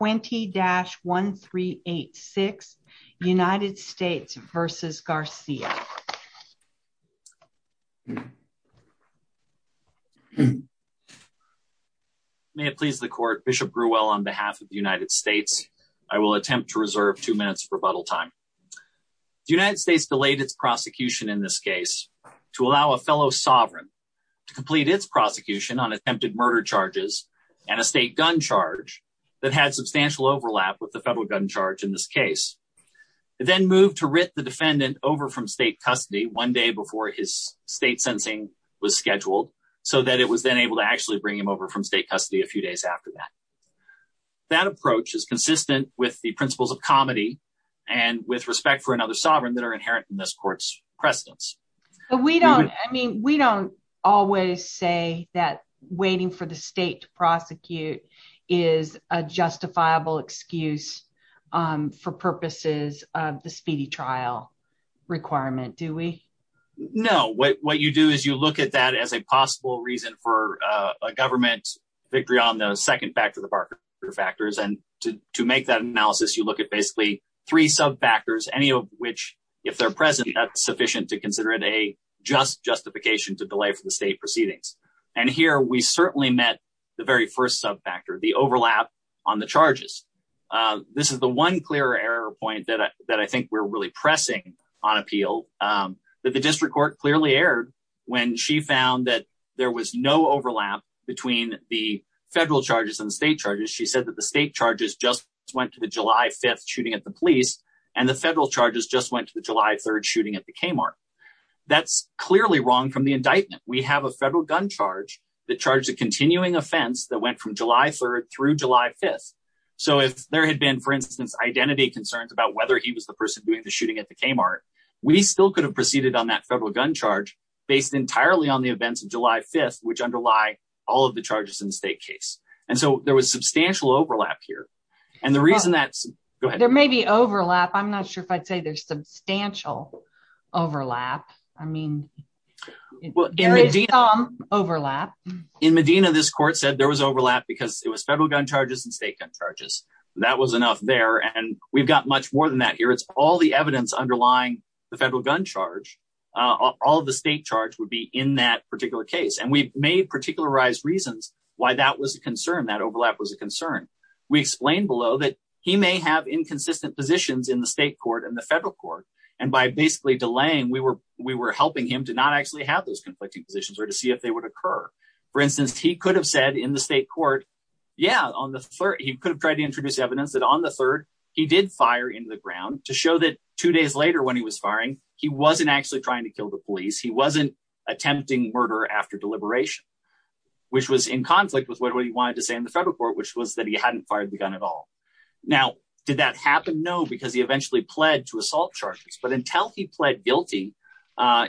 20-1386 United States v. Garcia May it please the court, Bishop Grewell on behalf of the United States, I will attempt to reserve two minutes of rebuttal time. The United States delayed its prosecution in this case to allow a fellow sovereign to the federal gun charge in this case, then moved to writ the defendant over from state custody one day before his state sensing was scheduled, so that it was then able to actually bring him over from state custody a few days after that. That approach is consistent with the principles of comedy and with respect for another sovereign that are inherent in this court's precedence. We don't, I mean, we don't always say that waiting for the state to prosecute is a justifiable excuse for purposes of the speedy trial requirement, do we? No, what you do is you look at that as a possible reason for a government victory on the second factor, the Barker factors. And to make that analysis, you look at basically three sub factors, any of which, if they're present, that's sufficient to consider it a just justification to delay for the state proceedings. And here we certainly met the very first sub factor, the overlap on the charges. This is the one clear error point that I think we're really pressing on appeal that the district court clearly aired when she found that there was no overlap between the federal charges and state charges. She said that the state charges just went to the July 5th charges just went to the July 3rd shooting at the Kmart. That's clearly wrong from the indictment. We have a federal gun charge that charged a continuing offense that went from July 3rd through July 5th. So if there had been, for instance, identity concerns about whether he was the person doing the shooting at the Kmart, we still could have proceeded on that federal gun charge based entirely on the events of July 5th, which underlie all of the charges in the state case. And so there was substantial overlap here. And the reason that there may be overlap, I'm not sure if I'd say there's substantial overlap. I mean, there is some overlap. In Medina, this court said there was overlap because it was federal gun charges and state gun charges. That was enough there. And we've got much more than that here. It's all the evidence underlying the federal gun charge. All of the state charge would be in that particular case. And we've made particularized reasons why that was a concern. That overlap was a concern. We explained below that he may have inconsistent positions in the state court and the federal court. And by basically delaying, we were helping him to not actually have those conflicting positions or to see if they would occur. For instance, he could have said in the state court, yeah, on the third, he could have tried to introduce evidence that on the third, he did fire into the ground to show that two days later when he was firing, he wasn't actually trying to kill the police. He wasn't attempting murder after deliberation, which was in conflict with what he wanted to say in the federal court, which was that he hadn't fired the gun at all. Now, did that happen? No, because he eventually pled to assault charges. But until he pled guilty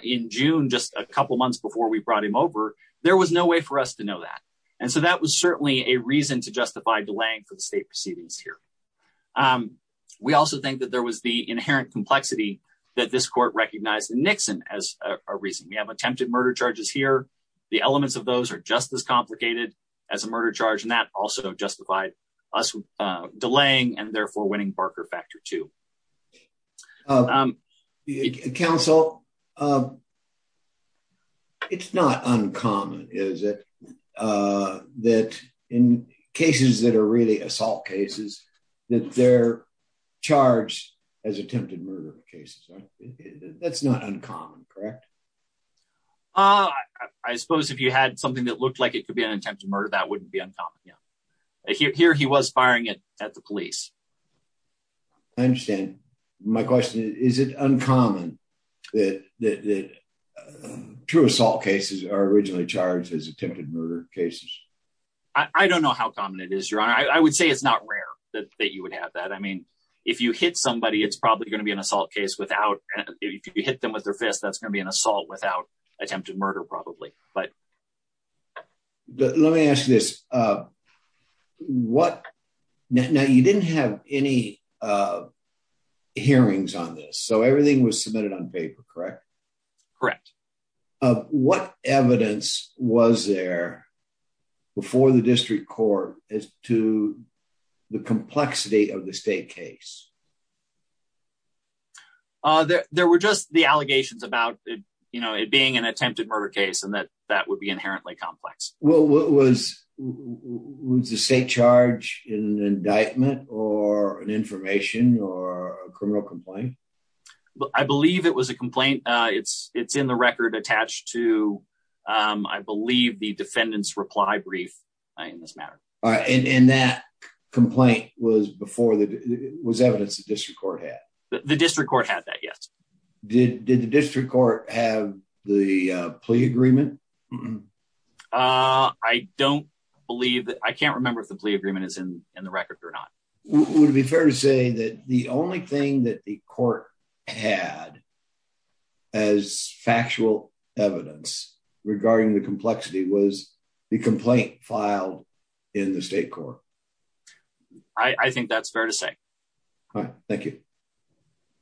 in June, just a couple months before we brought him over, there was no way for us to know that. And so that was certainly a reason to justify delaying for the state proceedings here. We also think that there was the inherent complexity that this court recognized in Nixon as a reason. We have attempted murder charges here. The elements of those are just as complicated as a murder charge. And that also justified us delaying and therefore winning Barker Factor 2. Counsel, it's not uncommon, is it, that in cases that are really assault cases, that they're charged as attempted murder cases. That's not uncommon, correct? Uh, I suppose if you had something that looked like it could be an attempted murder, that wouldn't be uncommon. Yeah. Here he was firing it at the police. I understand. My question is, is it uncommon that true assault cases are originally charged as attempted murder cases? I don't know how common it is, Your Honor. I would say it's not rare that you would have that. I mean, if you hit somebody, it's probably going to be an assault without attempted murder, probably. Let me ask you this. Now, you didn't have any hearings on this, so everything was submitted on paper, correct? Correct. What evidence was there before the district court as to the complexity of the state case? Uh, there were just the allegations about, you know, it being an attempted murder case and that that would be inherently complex. Well, was the state charged in an indictment or an information or a criminal complaint? I believe it was a complaint. It's in the record attached to, I believe, the defendant's reply brief in this matter. All right. And that complaint was before evidence the district court had? The district court had that, yes. Did the district court have the plea agreement? I don't believe that. I can't remember if the plea agreement is in the record or not. Would it be fair to say that the only thing that the court had as factual evidence regarding the complexity was the complaint filed in the state court? I think that's fair to say. All right. Thank you.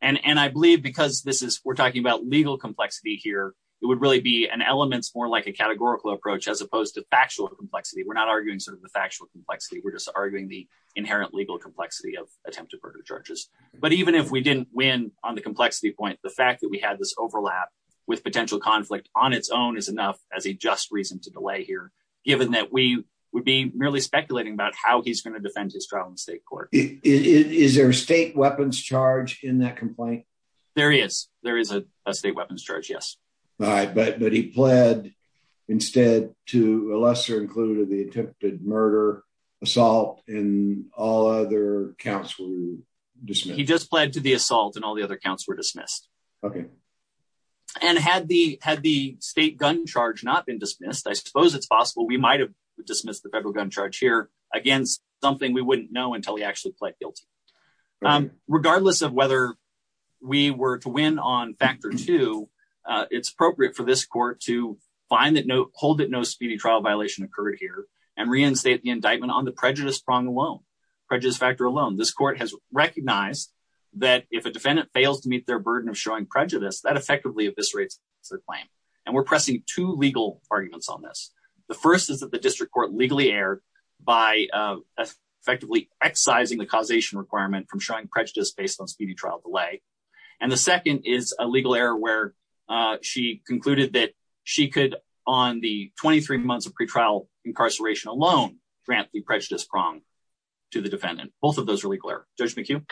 And I believe because this is, we're talking about legal complexity here, it would really be an elements more like a categorical approach as opposed to factual complexity. We're not arguing sort of the factual complexity. We're just arguing the inherent legal complexity of attempted murder charges. But even if we didn't win on the complexity point, the fact that we had this overlap with potential conflict on its own is enough as a reason to delay here, given that we would be merely speculating about how he's going to defend his trial in state court. Is there a state weapons charge in that complaint? There is. There is a state weapons charge, yes. All right. But he pled instead to a lesser included the attempted murder assault and all other counts were dismissed? He just pled to the assault and all the other charges. I suppose it's possible we might have dismissed the federal gun charge here against something we wouldn't know until he actually pled guilty. Regardless of whether we were to win on factor two, it's appropriate for this court to find that no hold that no speedy trial violation occurred here and reinstate the indictment on the prejudice prong alone. Prejudice factor alone. This court has recognized that if a defendant fails to meet their burden of showing prejudice, that effectively eviscerates the claim. And we're pressing two legal arguments on this. The first is that the district court legally erred by effectively excising the causation requirement from showing prejudice based on speedy trial delay. And the second is a legal error where she concluded that she could, on the 23 months of pretrial incarceration alone, grant the prejudice prong to the defendant. Both of those are legal error. Judge McHugh?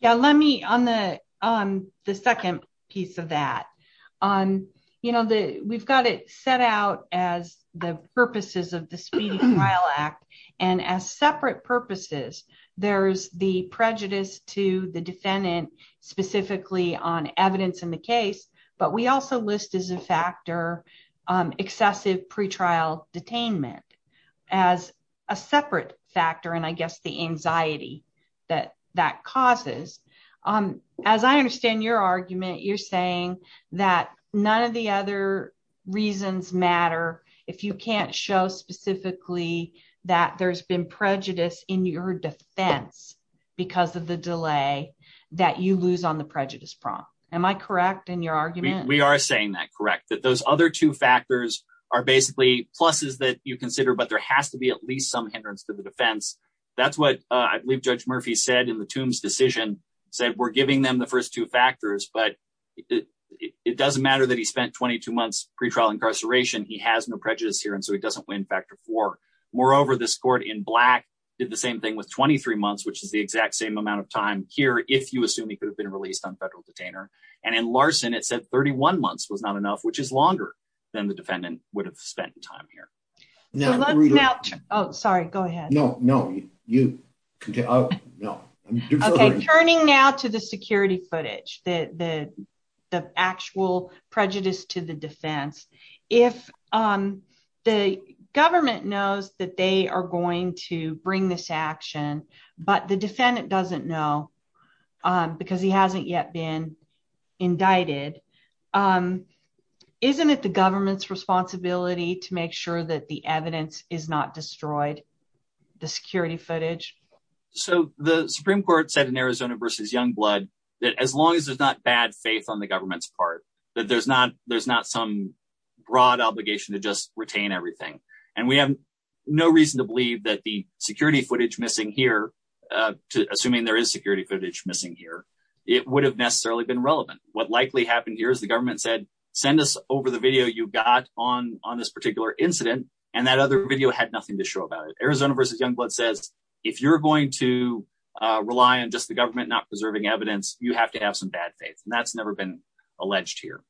Yeah, let me on the second piece of that. We've got it set out as the purposes of the Speedy Trial Act. And as separate purposes, there's the prejudice to the defendant specifically on evidence in the case. But we also list as a factor excessive pretrial detainment as a separate factor, and I guess the anxiety that that causes. As I understand your argument, you're saying that none of the other reasons matter if you can't show specifically that there's been prejudice in your defense because of the delay that you lose on the prejudice prong. Am I correct in your argument? We are saying that correct, that those other two factors are basically pluses that you consider, but there has to be at least some hindrance to the defense. That's what I believe Judge Murphy said in the Tombs decision, said we're giving them the first two factors, but it doesn't matter that he spent 22 months pretrial incarceration. He has no prejudice here, and so he doesn't win factor four. Moreover, this court in black did the same thing with 23 months, which is the exact same amount of time here, if you assume he could have been released on federal detainer. And in Larson, it said 31 months was not enough, which is longer than the defendant would have spent time here. Oh, sorry, go ahead. No, no, you. Okay, turning now to the security footage, the actual prejudice to the defense. If the government knows that they are going to bring this action, but the defendant doesn't know because he hasn't yet been indicted, isn't it the government's responsibility to make sure that the evidence is not destroyed, the security footage? So the Supreme Court said in Arizona versus Youngblood that as long as there's not bad faith on the government's part, that there's not some broad obligation to just retain everything. And we have no reason to believe that the security footage missing here, it would have necessarily been relevant. What likely happened here is the government said, send us over the video you got on on this particular incident. And that other video had nothing to show about it. Arizona versus Youngblood says, if you're going to rely on just the government not preserving evidence, you have to have some bad faith. And that's never been alleged here.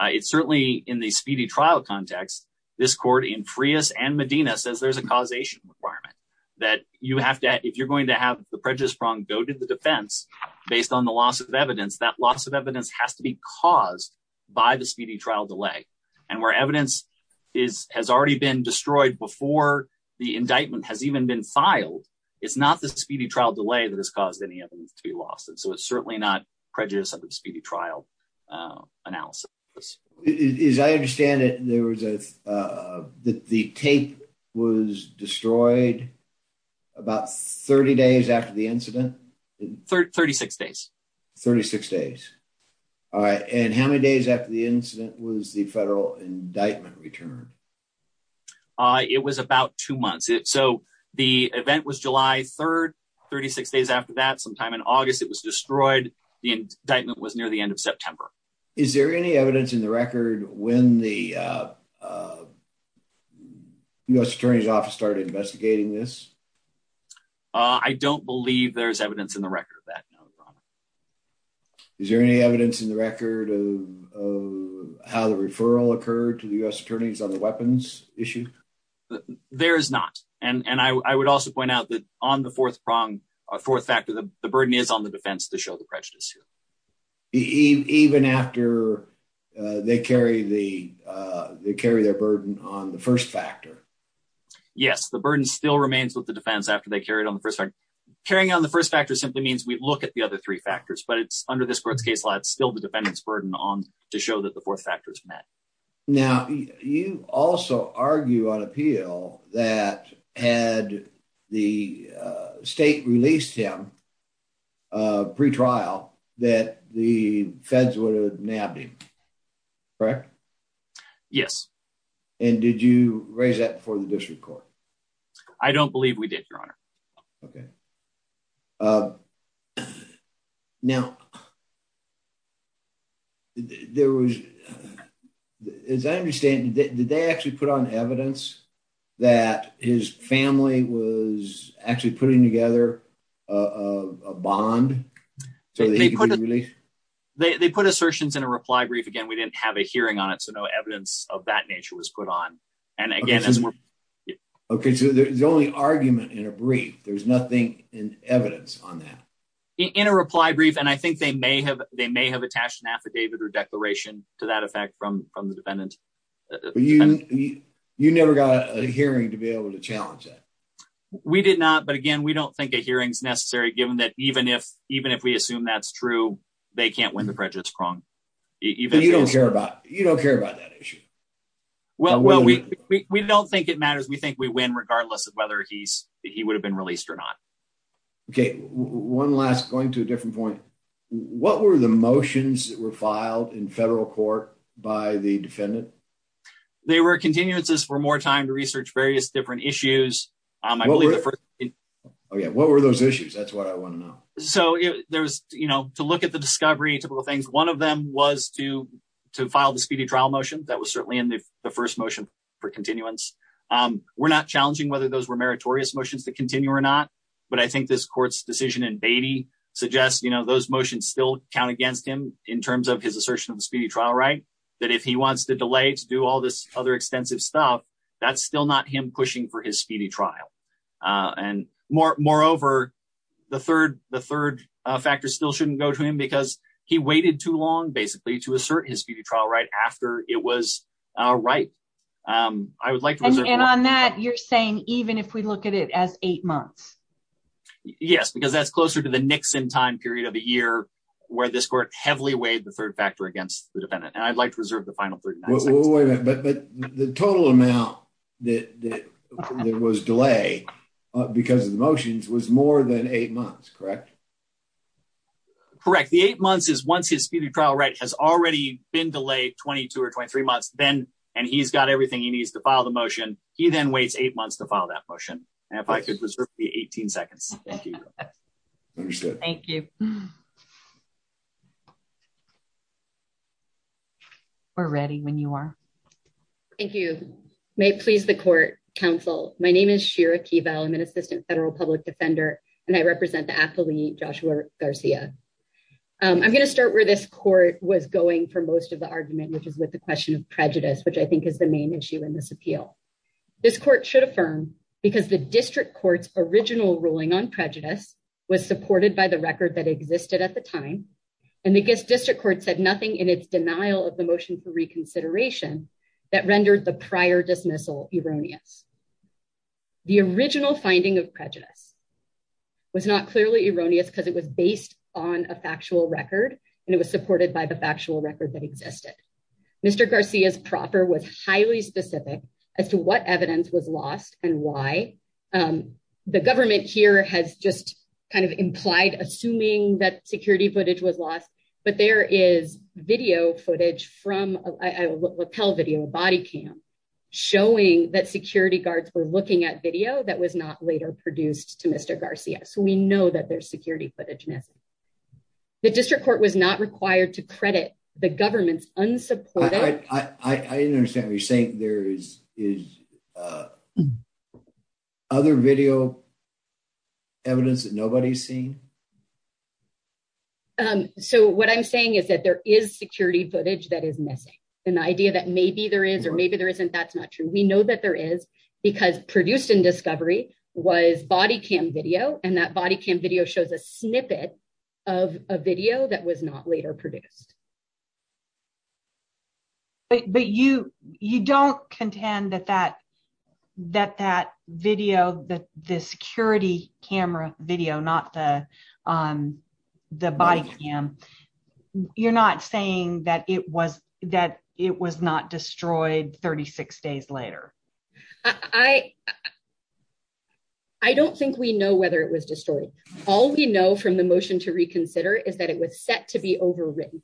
It's certainly in the speedy trial context. This court in Frias and Medina says there's a causation requirement that you have to if you're going to have the prejudice prong go to defense, based on the loss of evidence, that loss of evidence has to be caused by the speedy trial delay. And where evidence is has already been destroyed before the indictment has even been filed. It's not the speedy trial delay that has caused any evidence to be lost. And so it's certainly not prejudice of the speedy trial analysis. As I understand it, there was a that the tape was destroyed about 30 days after the incident. 36 days. 36 days. All right. And how many days after the incident was the federal indictment returned? It was about two months. So the event was July 3rd. 36 days after that sometime in August, it was destroyed. The indictment was near the end of September. Is there any evidence in the record when the U.S. Attorney's Office started investigating this? I don't believe there's evidence in the record that. Is there any evidence in the record of how the referral occurred to the U.S. Attorneys on the weapons issue? There is not. And I would also point out that on the fourth prong, our fourth factor, the burden is on the defense to show the prejudice. Even after they carry their burden on the first factor? Yes, the burden still remains with the defense after they carry it on the first factor. Carrying on the first factor simply means we look at the other three factors, but it's under this court's case law, it's still the defendant's burden on to show that the fourth factor is met. Now, you also argue on appeal that had the state released him pre-trial that the feds would have nabbed him. Correct? Yes. And did you raise that before the district court? I don't believe we did, your honor. Okay. Now, as I understand, did they actually put on evidence that his family was actually putting together a bond so that he could be released? They put assertions in a reply brief. Again, we didn't have a hearing on it, so no evidence of that nature was put on. Okay, so there's only argument in a brief, there's nothing in evidence on that? In a reply brief, and I think they may have attached an affidavit or declaration to that effect from the defendant. You never got a hearing to be able to challenge that? We did not, but again, we don't think a hearing is necessary given that even if we assume that's the case. You don't care about that issue? Well, we don't think it matters. We think we win regardless of whether he would have been released or not. Okay, one last, going to a different point. What were the motions that were filed in federal court by the defendant? They were continuances for more time to research various different issues. What were those issues? That's what I want to know. So to look at the discovery, typical things, one of them was to file the speedy trial motion. That was certainly in the first motion for continuance. We're not challenging whether those were meritorious motions to continue or not, but I think this court's decision in Beatty suggests those motions still count against him in terms of his assertion of the speedy trial, right? That if he wants to delay to do all this other extensive stuff, that's still not him pushing for his speedy trial. And moreover, the third factor still shouldn't go to him because he waited too long basically to assert his speedy trial right after it was right. I would like to- And on that, you're saying even if we look at it as eight months? Yes, because that's closer to the Nixon time period of a year where this court heavily weighed the third factor against the defendant. And I'd like to reserve the final 39 seconds. But the total amount that was delayed because of the motions was more than eight months, correct? Correct. The eight months is once his speedy trial right has already been delayed 22 or 23 months, and he's got everything he needs to file the motion, he then waits eight months to file that motion. And if I could reserve the 18 seconds. Thank you. Thank you. We're ready when you are. Thank you. May it please the court, counsel. My name is Shira Keevel. I'm an assistant federal public defender, and I represent the athlete Joshua Garcia. I'm going to start where this court was going for most of the argument, which is with the question of prejudice, which I think is the main issue in this appeal. This court should affirm because the district court's original ruling on prejudice was supported by the record that existed at the time. And the district court said nothing in its denial of the motion for reconsideration that rendered the prior dismissal erroneous. The original finding of prejudice was not clearly erroneous because it was based on a factual record, and it was supported by the factual record that existed. Mr. Garcia's proper was highly specific as to what evidence was lost and why. The government here has just kind of implied assuming that security footage was lost. But there is video footage from a lapel video body cam showing that security guards were looking at video that was not later produced to Mr. Garcia. So we know that there's security footage. The district court was not required to understand what you're saying. There is other video evidence that nobody's seen. So what I'm saying is that there is security footage that is missing. And the idea that maybe there is or maybe there isn't, that's not true. We know that there is because produced in discovery was body cam video, and that body cam video shows a snippet of a video that was not later produced. But you don't contend that that video, the security camera video, not the the body cam, you're not saying that it was not destroyed 36 days later? I don't think we know whether it was destroyed. All we know from the motion to reconsider is that it was set to be overwritten.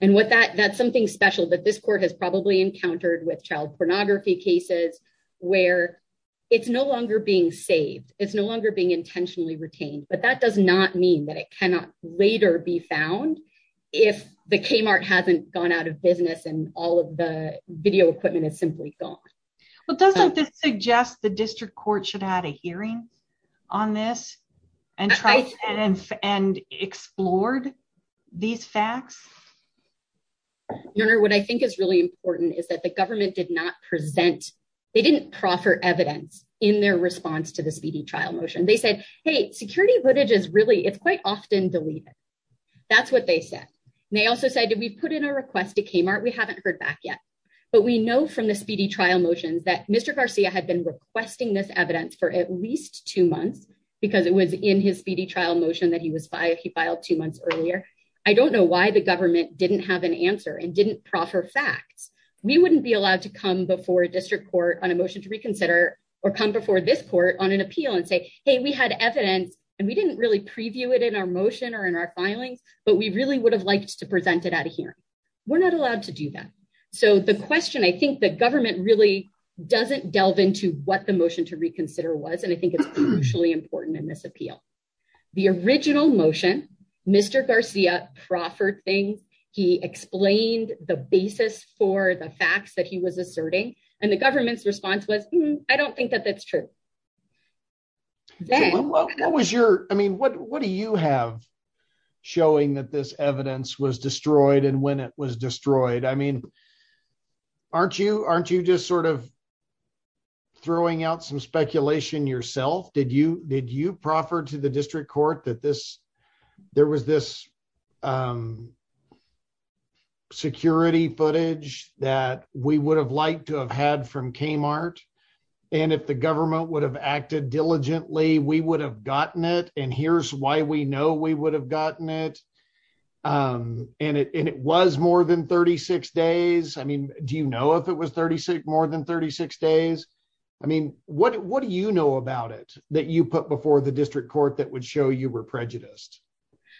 And what that that's something special that this court has probably encountered with child pornography cases, where it's no longer being saved, it's no longer being intentionally retained. But that does not mean that it cannot later be found. If the Kmart hasn't gone out of business, and all of the video equipment is simply gone. But doesn't this these facts? Your Honor, what I think is really important is that the government did not present, they didn't proffer evidence in their response to the speedy trial motion, they said, hey, security footage is really it's quite often deleted. That's what they said. And they also said, did we put in a request to Kmart, we haven't heard back yet. But we know from the speedy trial motions that Mr. Garcia had been requesting this evidence for at least two months, because it was in his speedy trial motion that he was by he filed two months earlier. I don't know why the government didn't have an answer and didn't proffer facts, we wouldn't be allowed to come before a district court on a motion to reconsider, or come before this court on an appeal and say, hey, we had evidence. And we didn't really preview it in our motion or in our filings. But we really would have liked to present it at a hearing. We're not allowed to do that. So the question, I think the government really doesn't delve into what the motion to reconsider was. And I think it's crucially important in this appeal. The original motion, Mr. Garcia proffered thing, he explained the basis for the facts that he was asserting. And the government's response was, I don't think that that's true. What was your I mean, what what do you have showing that this evidence was destroyed and when it was destroyed? I mean, aren't you aren't you just sort of throwing out some speculation yourself? Did you did you proffer to the district court that this there was this security footage that we would have liked to have had from Kmart? And if the government would have acted diligently, we would have gotten it. And here's why we know we would have gotten it. And it was more than 36 days. I mean, do you know if it was 36 more than 36 days? I mean, what do you know about it that you put before the district court that would show you were prejudiced?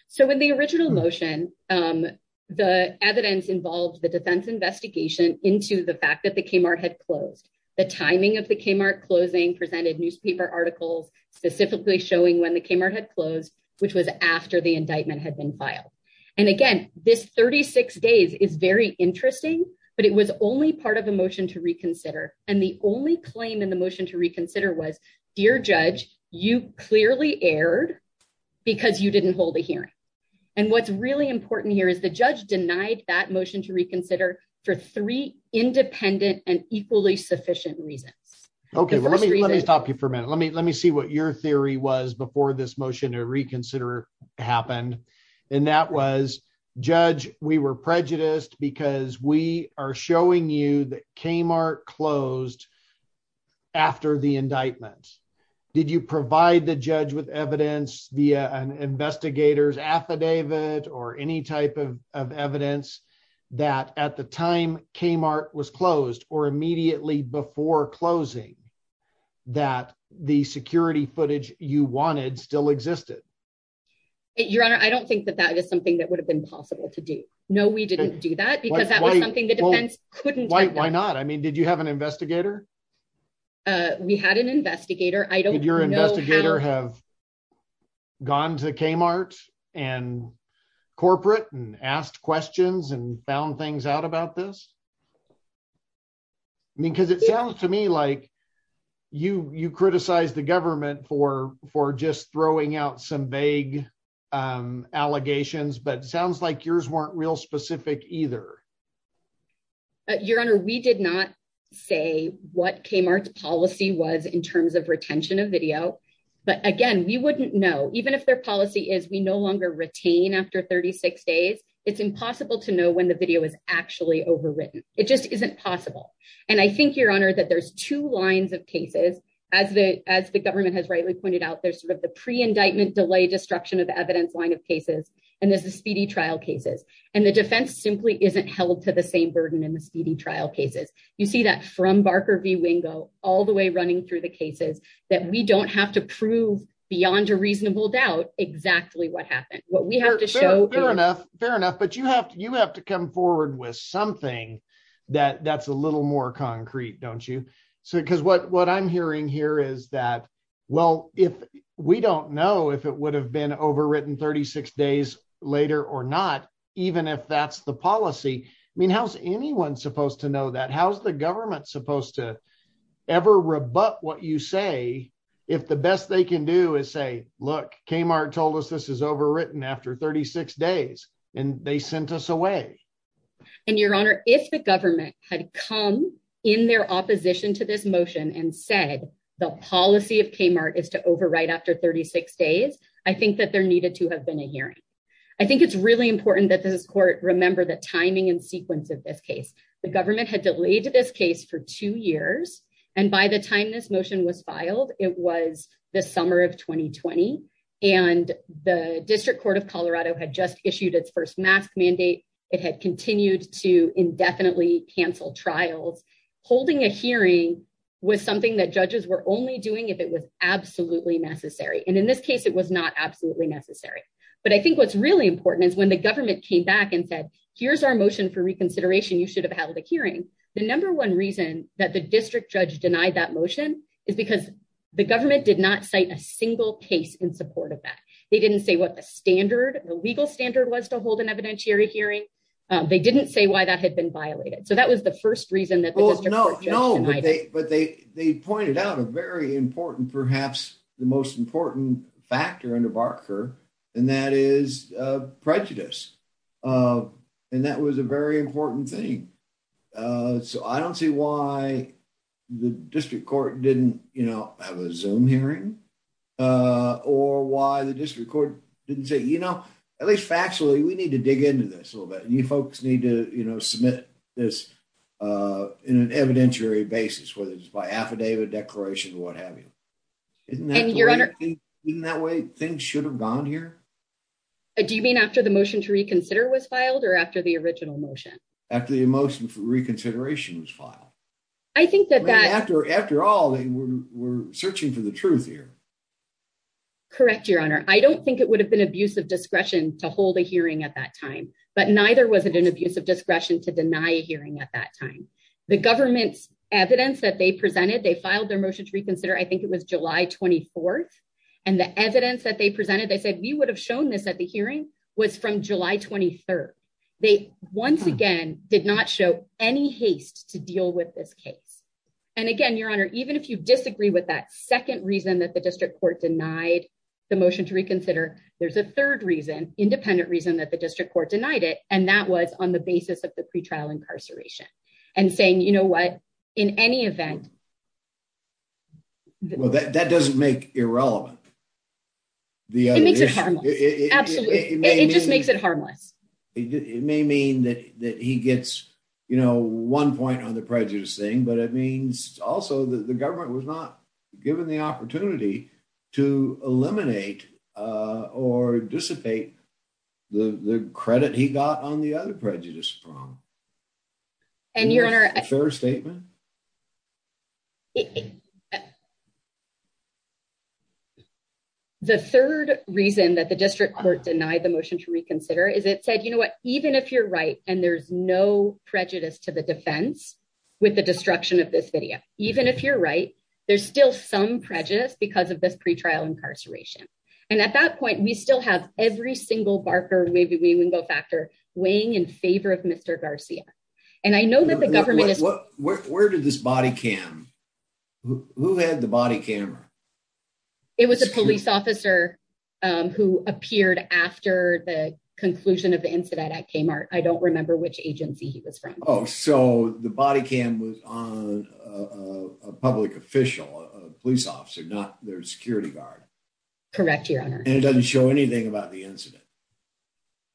So when the original motion, the evidence involved the defense investigation into the fact that the Kmart had closed, the timing of the Kmart closing presented newspaper articles specifically showing when the Kmart had closed, which was after the indictment had been filed. And again, this 36 days is very interesting, but it was only part of a motion to reconsider. And the only claim in the motion to reconsider was, dear judge, you clearly erred because you didn't hold a hearing. And what's really important here is the judge denied that motion to reconsider for three independent and equally sufficient reasons. Okay, let me let me stop you for a minute. Let me let me see what your theory was before this motion to reconsider happened. And that was, judge, we were prejudiced because we are showing you that Kmart closed after the indictment. Did you provide the judge with evidence via an investigator's affidavit or any type of evidence that at the time Kmart was closed or immediately before closing that the security footage you wanted still existed? Your Honor, I don't think that that is something that would have been possible to do. No, we didn't do that, because that was something the defense couldn't do. Why not? I mean, did you have an investigator? We had an investigator. Did your investigator have gone to Kmart and corporate and asked questions and found things out about this? I mean, because it sounds to me like you you criticize the government for for just throwing out some vague allegations, but sounds like yours weren't real specific either. Your Honor, we did not say what Kmart's policy was in terms of retention of video. But again, we wouldn't know even if their policy is we no longer retain after 36 days. It's impossible to know when the video is actually overwritten. It just isn't possible. And I think your Honor that there's two lines of cases, as the government has rightly pointed out, there's sort of the pre-indictment delay destruction of evidence line of cases, and there's the speedy trial cases. And the defense simply isn't held to the same burden in the speedy trial cases. You see that from Barker v. Wingo all the way running through the cases that we don't have to prove beyond a reasonable doubt exactly what happened. We have to show fair enough, but you have to you have to come forward with something that that's a little more concrete, don't you? So because what what I'm hearing here is that, well, if we don't know if it would have been overwritten 36 days later or not, even if that's the policy, I mean, how's anyone supposed to know that? How's the government supposed to ever rebut what you say? If the best they can do is say, look, Kmart told us this is after 36 days and they sent us away. And Your Honor, if the government had come in their opposition to this motion and said the policy of Kmart is to overwrite after 36 days, I think that there needed to have been a hearing. I think it's really important that this court remember the timing and sequence of this case. The government had delayed this case for two years. And by the of Colorado had just issued its first mask mandate. It had continued to indefinitely cancel trials. Holding a hearing was something that judges were only doing if it was absolutely necessary. And in this case, it was not absolutely necessary. But I think what's really important is when the government came back and said, here's our motion for reconsideration, you should have held a hearing. The number one reason that the district judge denied that motion is because the government did not cite a single case in support of that. They didn't say what the standard, the legal standard was to hold an evidentiary hearing. They didn't say why that had been violated. So that was the first reason that was no, no. But they pointed out a very important, perhaps the most important factor under Barker, and that is prejudice. And that was a very important thing. So I don't see why the district court didn't, you know, have a Zoom hearing. Or why the district court didn't say, you know, at least factually, we need to dig into this a little bit. You folks need to, you know, submit this in an evidentiary basis, whether it's by affidavit, declaration, what have you. Isn't that way things should have gone here? Do you mean after the motion to reconsider was filed or after the original motion? After the motion for reconsideration was filed. I think that that- After all, we're searching for the truth here. Correct, Your Honor. I don't think it would have been abuse of discretion to hold a hearing at that time. But neither was it an abuse of discretion to deny a hearing at that time. The government's evidence that they presented, they filed their motion to reconsider, I think it was July 24th. And the evidence that they presented, they said we would have shown this at the hearing was from July 23rd. They once again did not show any haste to deal with this case. And again, Your Honor, even if you disagree with that second reason that the district court denied the motion to reconsider, there's a third reason, independent reason that the district court denied it. And that was on the basis of the pretrial incarceration. And saying, you know what, in any event- Well, that doesn't make irrelevant. It makes it harmless. Absolutely. It just makes it harmless. It may mean that he gets, you know, one point on the prejudice thing, but it means also that the government was not given the opportunity to eliminate or dissipate the credit he got on the other prejudice from. And Your Honor- The third reason that the district court denied the motion to reconsider is it said, you know what, even if you're right, and there's no prejudice to the defense with the destruction of this video, even if you're right, there's still some prejudice because of this pretrial incarceration. And at that point, we still have every single Barker-Wingo factor weighing in favor of Mr. Garcia. And I know that the government- Where did this body cam? Who had the body camera? It was a police officer who appeared after the conclusion of the incident at Kmart. I don't remember which agency he was from. Oh, so the body cam was on a public official, a police officer, not their security guard. Correct, Your Honor. And it doesn't show anything about the incident?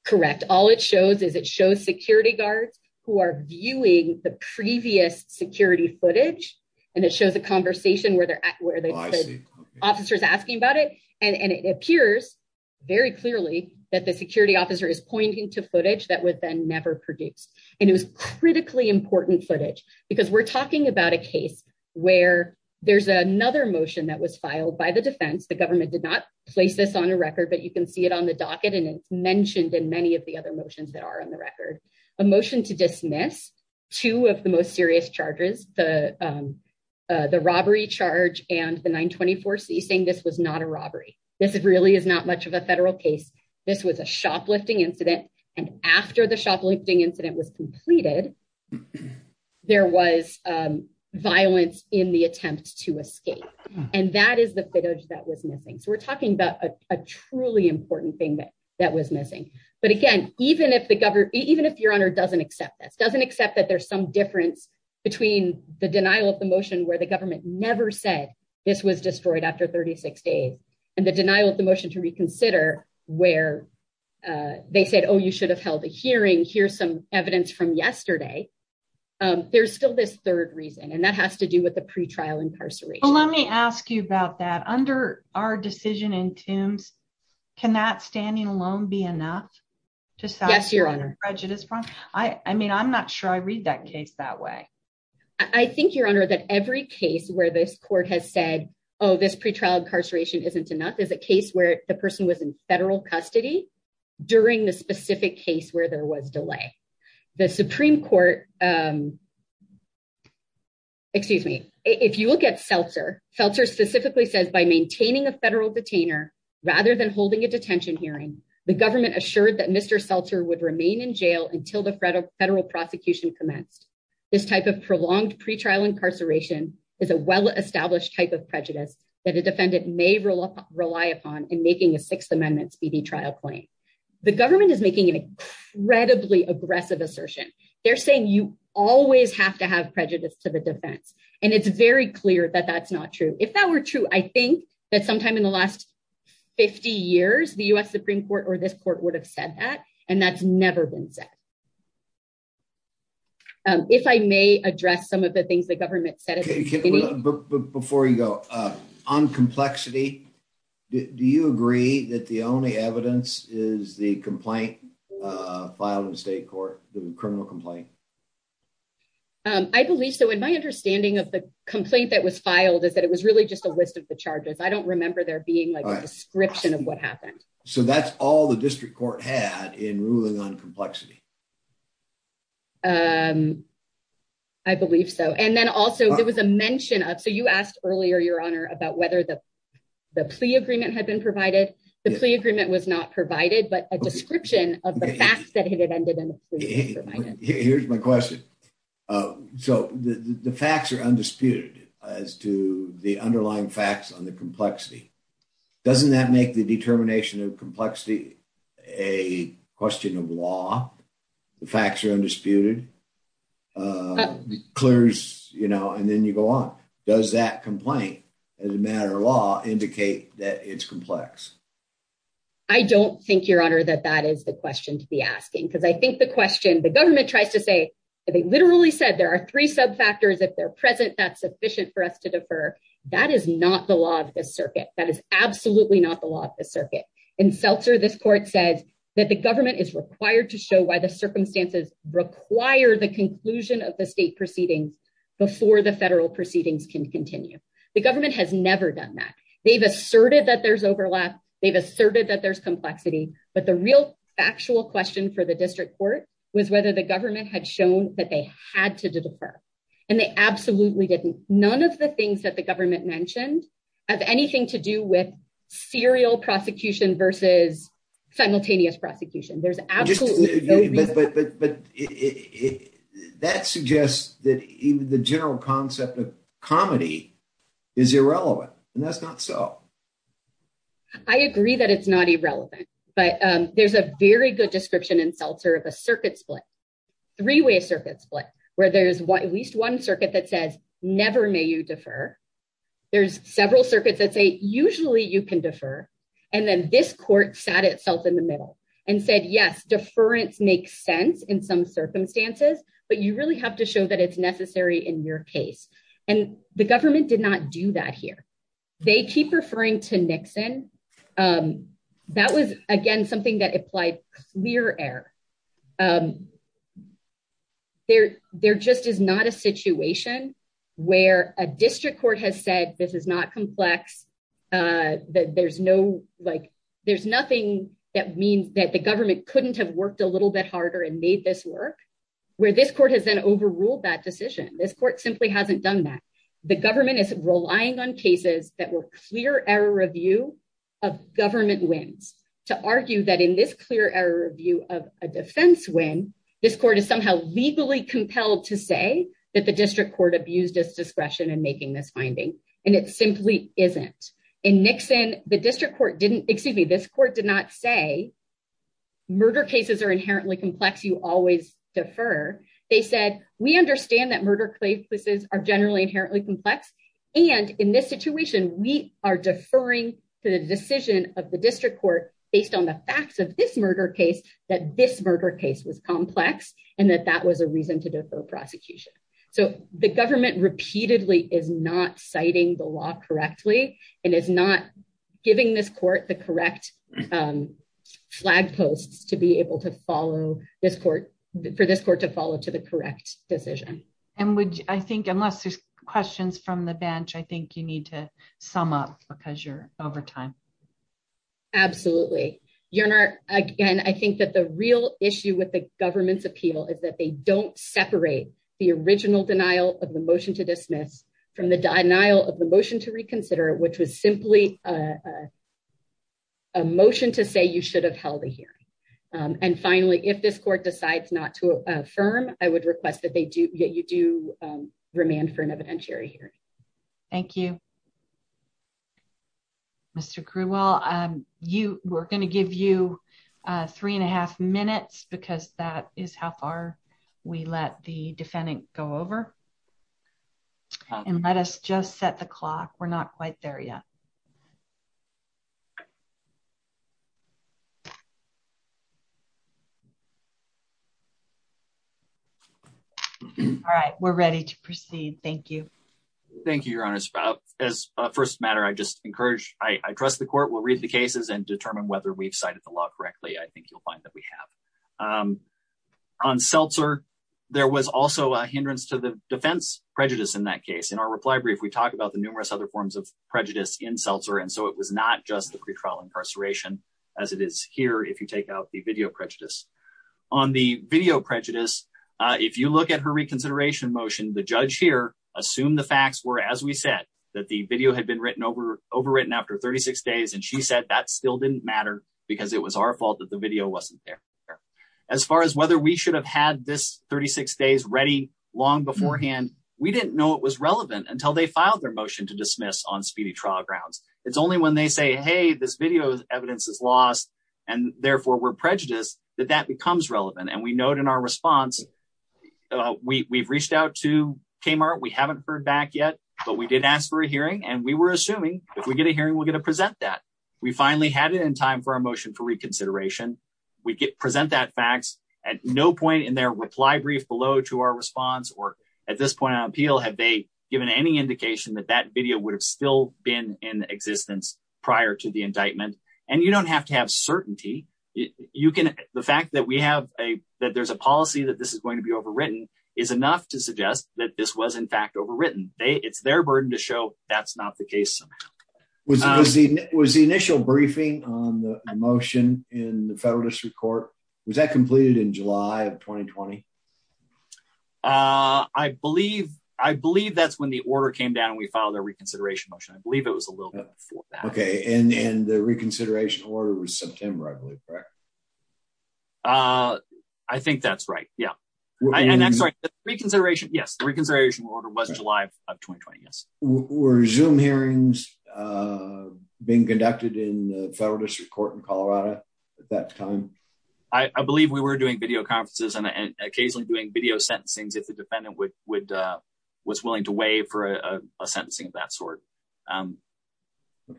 Correct. All it shows is it shows security guards who are viewing the previous security footage, and it shows a conversation where they're at, where the officer is asking about it. And it appears very clearly that the security officer is pointing to footage that was then never produced. And it was critically important footage because we're talking about a case where there's another motion that was filed by the defense. The government did not place this on a record, but you can see it on the docket and it's mentioned in many of the other motions that are on the record. A motion to dismiss two of the most serious charges, the robbery charge and the 924C saying this was not a robbery. This really is not much of a federal case. This was a shoplifting incident. And after the shoplifting incident was completed, there was violence in the attempt to escape. And that is the footage that was missing. We're talking about a truly important thing that was missing. But again, even if Your Honor doesn't accept this, doesn't accept that there's some difference between the denial of the motion where the government never said this was destroyed after 36 days and the denial of the motion to reconsider where they said, oh, you should have held a hearing. Here's some evidence from yesterday. There's still this third reason, and that has to do with the pretrial incarceration. Well, let me ask you about that. Under our decision in Tombs, can that standing alone be enough? Yes, Your Honor. I mean, I'm not sure I read that case that way. I think, Your Honor, that every case where this court has said, oh, this pretrial incarceration isn't enough is a case where the person was in federal custody during the specific case where there was delay. If you look at Seltzer, Seltzer specifically says, by maintaining a federal detainer rather than holding a detention hearing, the government assured that Mr. Seltzer would remain in jail until the federal prosecution commenced. This type of prolonged pretrial incarceration is a well-established type of prejudice that a defendant may rely upon in making an incredibly aggressive assertion. They're saying you always have to have prejudice to the defense, and it's very clear that that's not true. If that were true, I think that sometime in the last 50 years, the U.S. Supreme Court or this court would have said that, and that's never been said. If I may address some of the things the government said at the beginning. Before you go, on complexity, do you agree that the only evidence is the complaint filed in the state court, the criminal complaint? I believe so, and my understanding of the complaint that was filed is that it was really just a list of the charges. I don't remember there being a description of what happened. So that's all the district court had in ruling on complexity? I believe so, and then there was a mention of, so you asked earlier, your honor, about whether the plea agreement had been provided. The plea agreement was not provided, but a description of the facts that it had ended in. Here's my question. So the facts are undisputed as to the underlying facts on the complexity. Doesn't that make the determination of complexity a question of law? The facts are and then you go on. Does that complaint as a matter of law indicate that it's complex? I don't think, your honor, that that is the question to be asking, because I think the question the government tries to say, they literally said there are three sub-factors. If they're present, that's sufficient for us to defer. That is not the law of the circuit. That is absolutely not the law of the circuit. In Seltzer, this court says that the government is required to show why the circumstances require the conclusion of the state proceedings before the federal proceedings can continue. The government has never done that. They've asserted that there's overlap. They've asserted that there's complexity, but the real factual question for the district court was whether the government had shown that they had to defer, and they absolutely didn't. None of the things that the government mentioned have anything to do with serial prosecution versus simultaneous prosecution. There's absolutely no that even the general concept of comedy is irrelevant, and that's not so. I agree that it's not irrelevant, but there's a very good description in Seltzer of a circuit split, three-way circuit split, where there's at least one circuit that says, never may you defer. There's several circuits that say, usually you can defer, and then this court sat itself in the show that it's necessary in your case. The government did not do that here. They keep referring to Nixon. That was, again, something that applied clear air. There just is not a situation where a district court has said, this is not complex. There's nothing that means that the government couldn't have worked a little bit harder and made this work, where this court has overruled that decision. This court simply hasn't done that. The government is relying on cases that were clear error review of government wins to argue that in this clear error review of a defense win, this court is somehow legally compelled to say that the district court abused its discretion in making this finding, and it simply isn't. In Nixon, the district court didn't, excuse me, this court did not say, murder cases are inherently complex, you always defer. They said, we understand that murder cases are generally inherently complex, and in this situation, we are deferring to the decision of the district court based on the facts of this murder case, that this murder case was complex, and that that was a reason to defer prosecution. The government repeatedly is not correctly, and is not giving this court the correct flag posts to be able to follow this court, for this court to follow to the correct decision. And would I think unless there's questions from the bench, I think you need to sum up because you're over time. Absolutely. Your Honor, again, I think that the real issue with the government's appeal is that they don't separate the original denial of the motion to dismiss from the denial of the motion to reconsider, which was simply a motion to say you should have held a hearing. And finally, if this court decides not to affirm, I would request that you do remand for an evidentiary hearing. Thank you. Mr. Crewell, we're going to give you three and a half minutes because that is how far we let the defendant go over. And let us just set the clock. We're not quite there yet. All right, we're ready to proceed. Thank you. Thank you, Your Honor. As a first matter, I just encourage, I trust the court will read the cases and determine whether we've the law correctly. I think you'll find that we have. On Seltzer, there was also a hindrance to the defense prejudice in that case. In our reply brief, we talk about the numerous other forms of prejudice in Seltzer. And so it was not just the pretrial incarceration, as it is here, if you take out the video prejudice. On the video prejudice, if you look at her reconsideration motion, the judge here assumed the facts were, as we said, that the video had been overwritten after 36 days. And she said that still didn't matter because it was our fault that the video wasn't there. As far as whether we should have had this 36 days ready long beforehand, we didn't know it was relevant until they filed their motion to dismiss on speedy trial grounds. It's only when they say, hey, this video evidence is lost and therefore we're prejudiced, that that becomes relevant. And we note in our response, we've reached out to Kmart. We haven't heard back yet, but we did ask for a hearing and we were assuming if we get a hearing, we're going to present that. We finally had it in time for our motion for reconsideration. We get present that facts at no point in their reply brief below to our response. Or at this point on appeal, have they given any indication that that video would have still been in existence prior to the indictment? And you don't have to have certainty. You can, the fact that we have a, that there's a policy that this is going to be overwritten is enough to suggest that this was in fact overwritten. It's their burden to show that's not the case somehow. Was the initial briefing on the motion in the federal district court, was that completed in July of 2020? Uh, I believe, I believe that's when the order came down and we filed a reconsideration motion. I believe it was a little bit before that. Okay. And, and the reconsideration order was September, I believe, correct? Uh, I think that's right. Yeah. And I'm sorry, reconsideration. Yes. The reconsideration order was July of 2020. Yes. Were Zoom hearings, uh, being conducted in the federal district court in Colorado at that time? I believe we were doing video conferences and occasionally doing video sentencings if the defendant would, would, uh, was willing to waive for a sentencing of that sort. Um,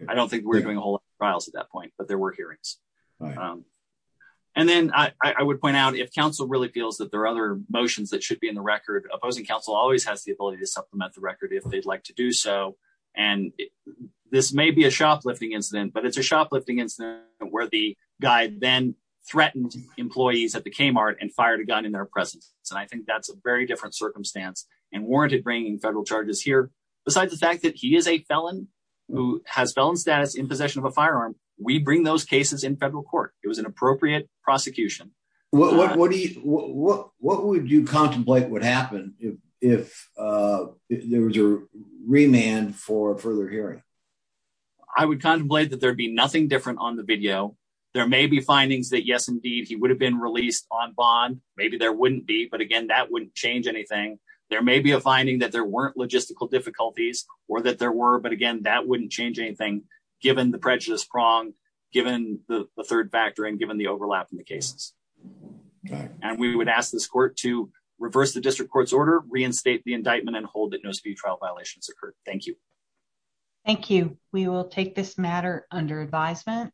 I don't think we're doing a whole lot of trials at that point, but there were hearings. And then I, I would point out if council really feels that there are other motions that should opposing council always has the ability to supplement the record if they'd like to do so. And this may be a shoplifting incident, but it's a shoplifting incident where the guy then threatened employees at the Kmart and fired a gun in their presence. And I think that's a very different circumstance and warranted bringing federal charges here. Besides the fact that he is a felon who has felon status in possession of a firearm, we bring those cases in federal court. It was an appropriate prosecution. What, what, what do you, what, what, what would you contemplate would happen if, if, uh, there was a remand for further hearing? I would contemplate that there'd be nothing different on the video. There may be findings that yes, indeed, he would have been released on bond. Maybe there wouldn't be, but again, that wouldn't change anything. There may be a finding that there weren't logistical difficulties or that there were, but again, that wouldn't change anything given the prejudice prong, given the third factor and given the overlap in the cases. And we would ask this court to reverse the district court's order, reinstate the indictment and hold that no speed trial violations occurred. Thank you. Thank you. We will take this matter under advisement.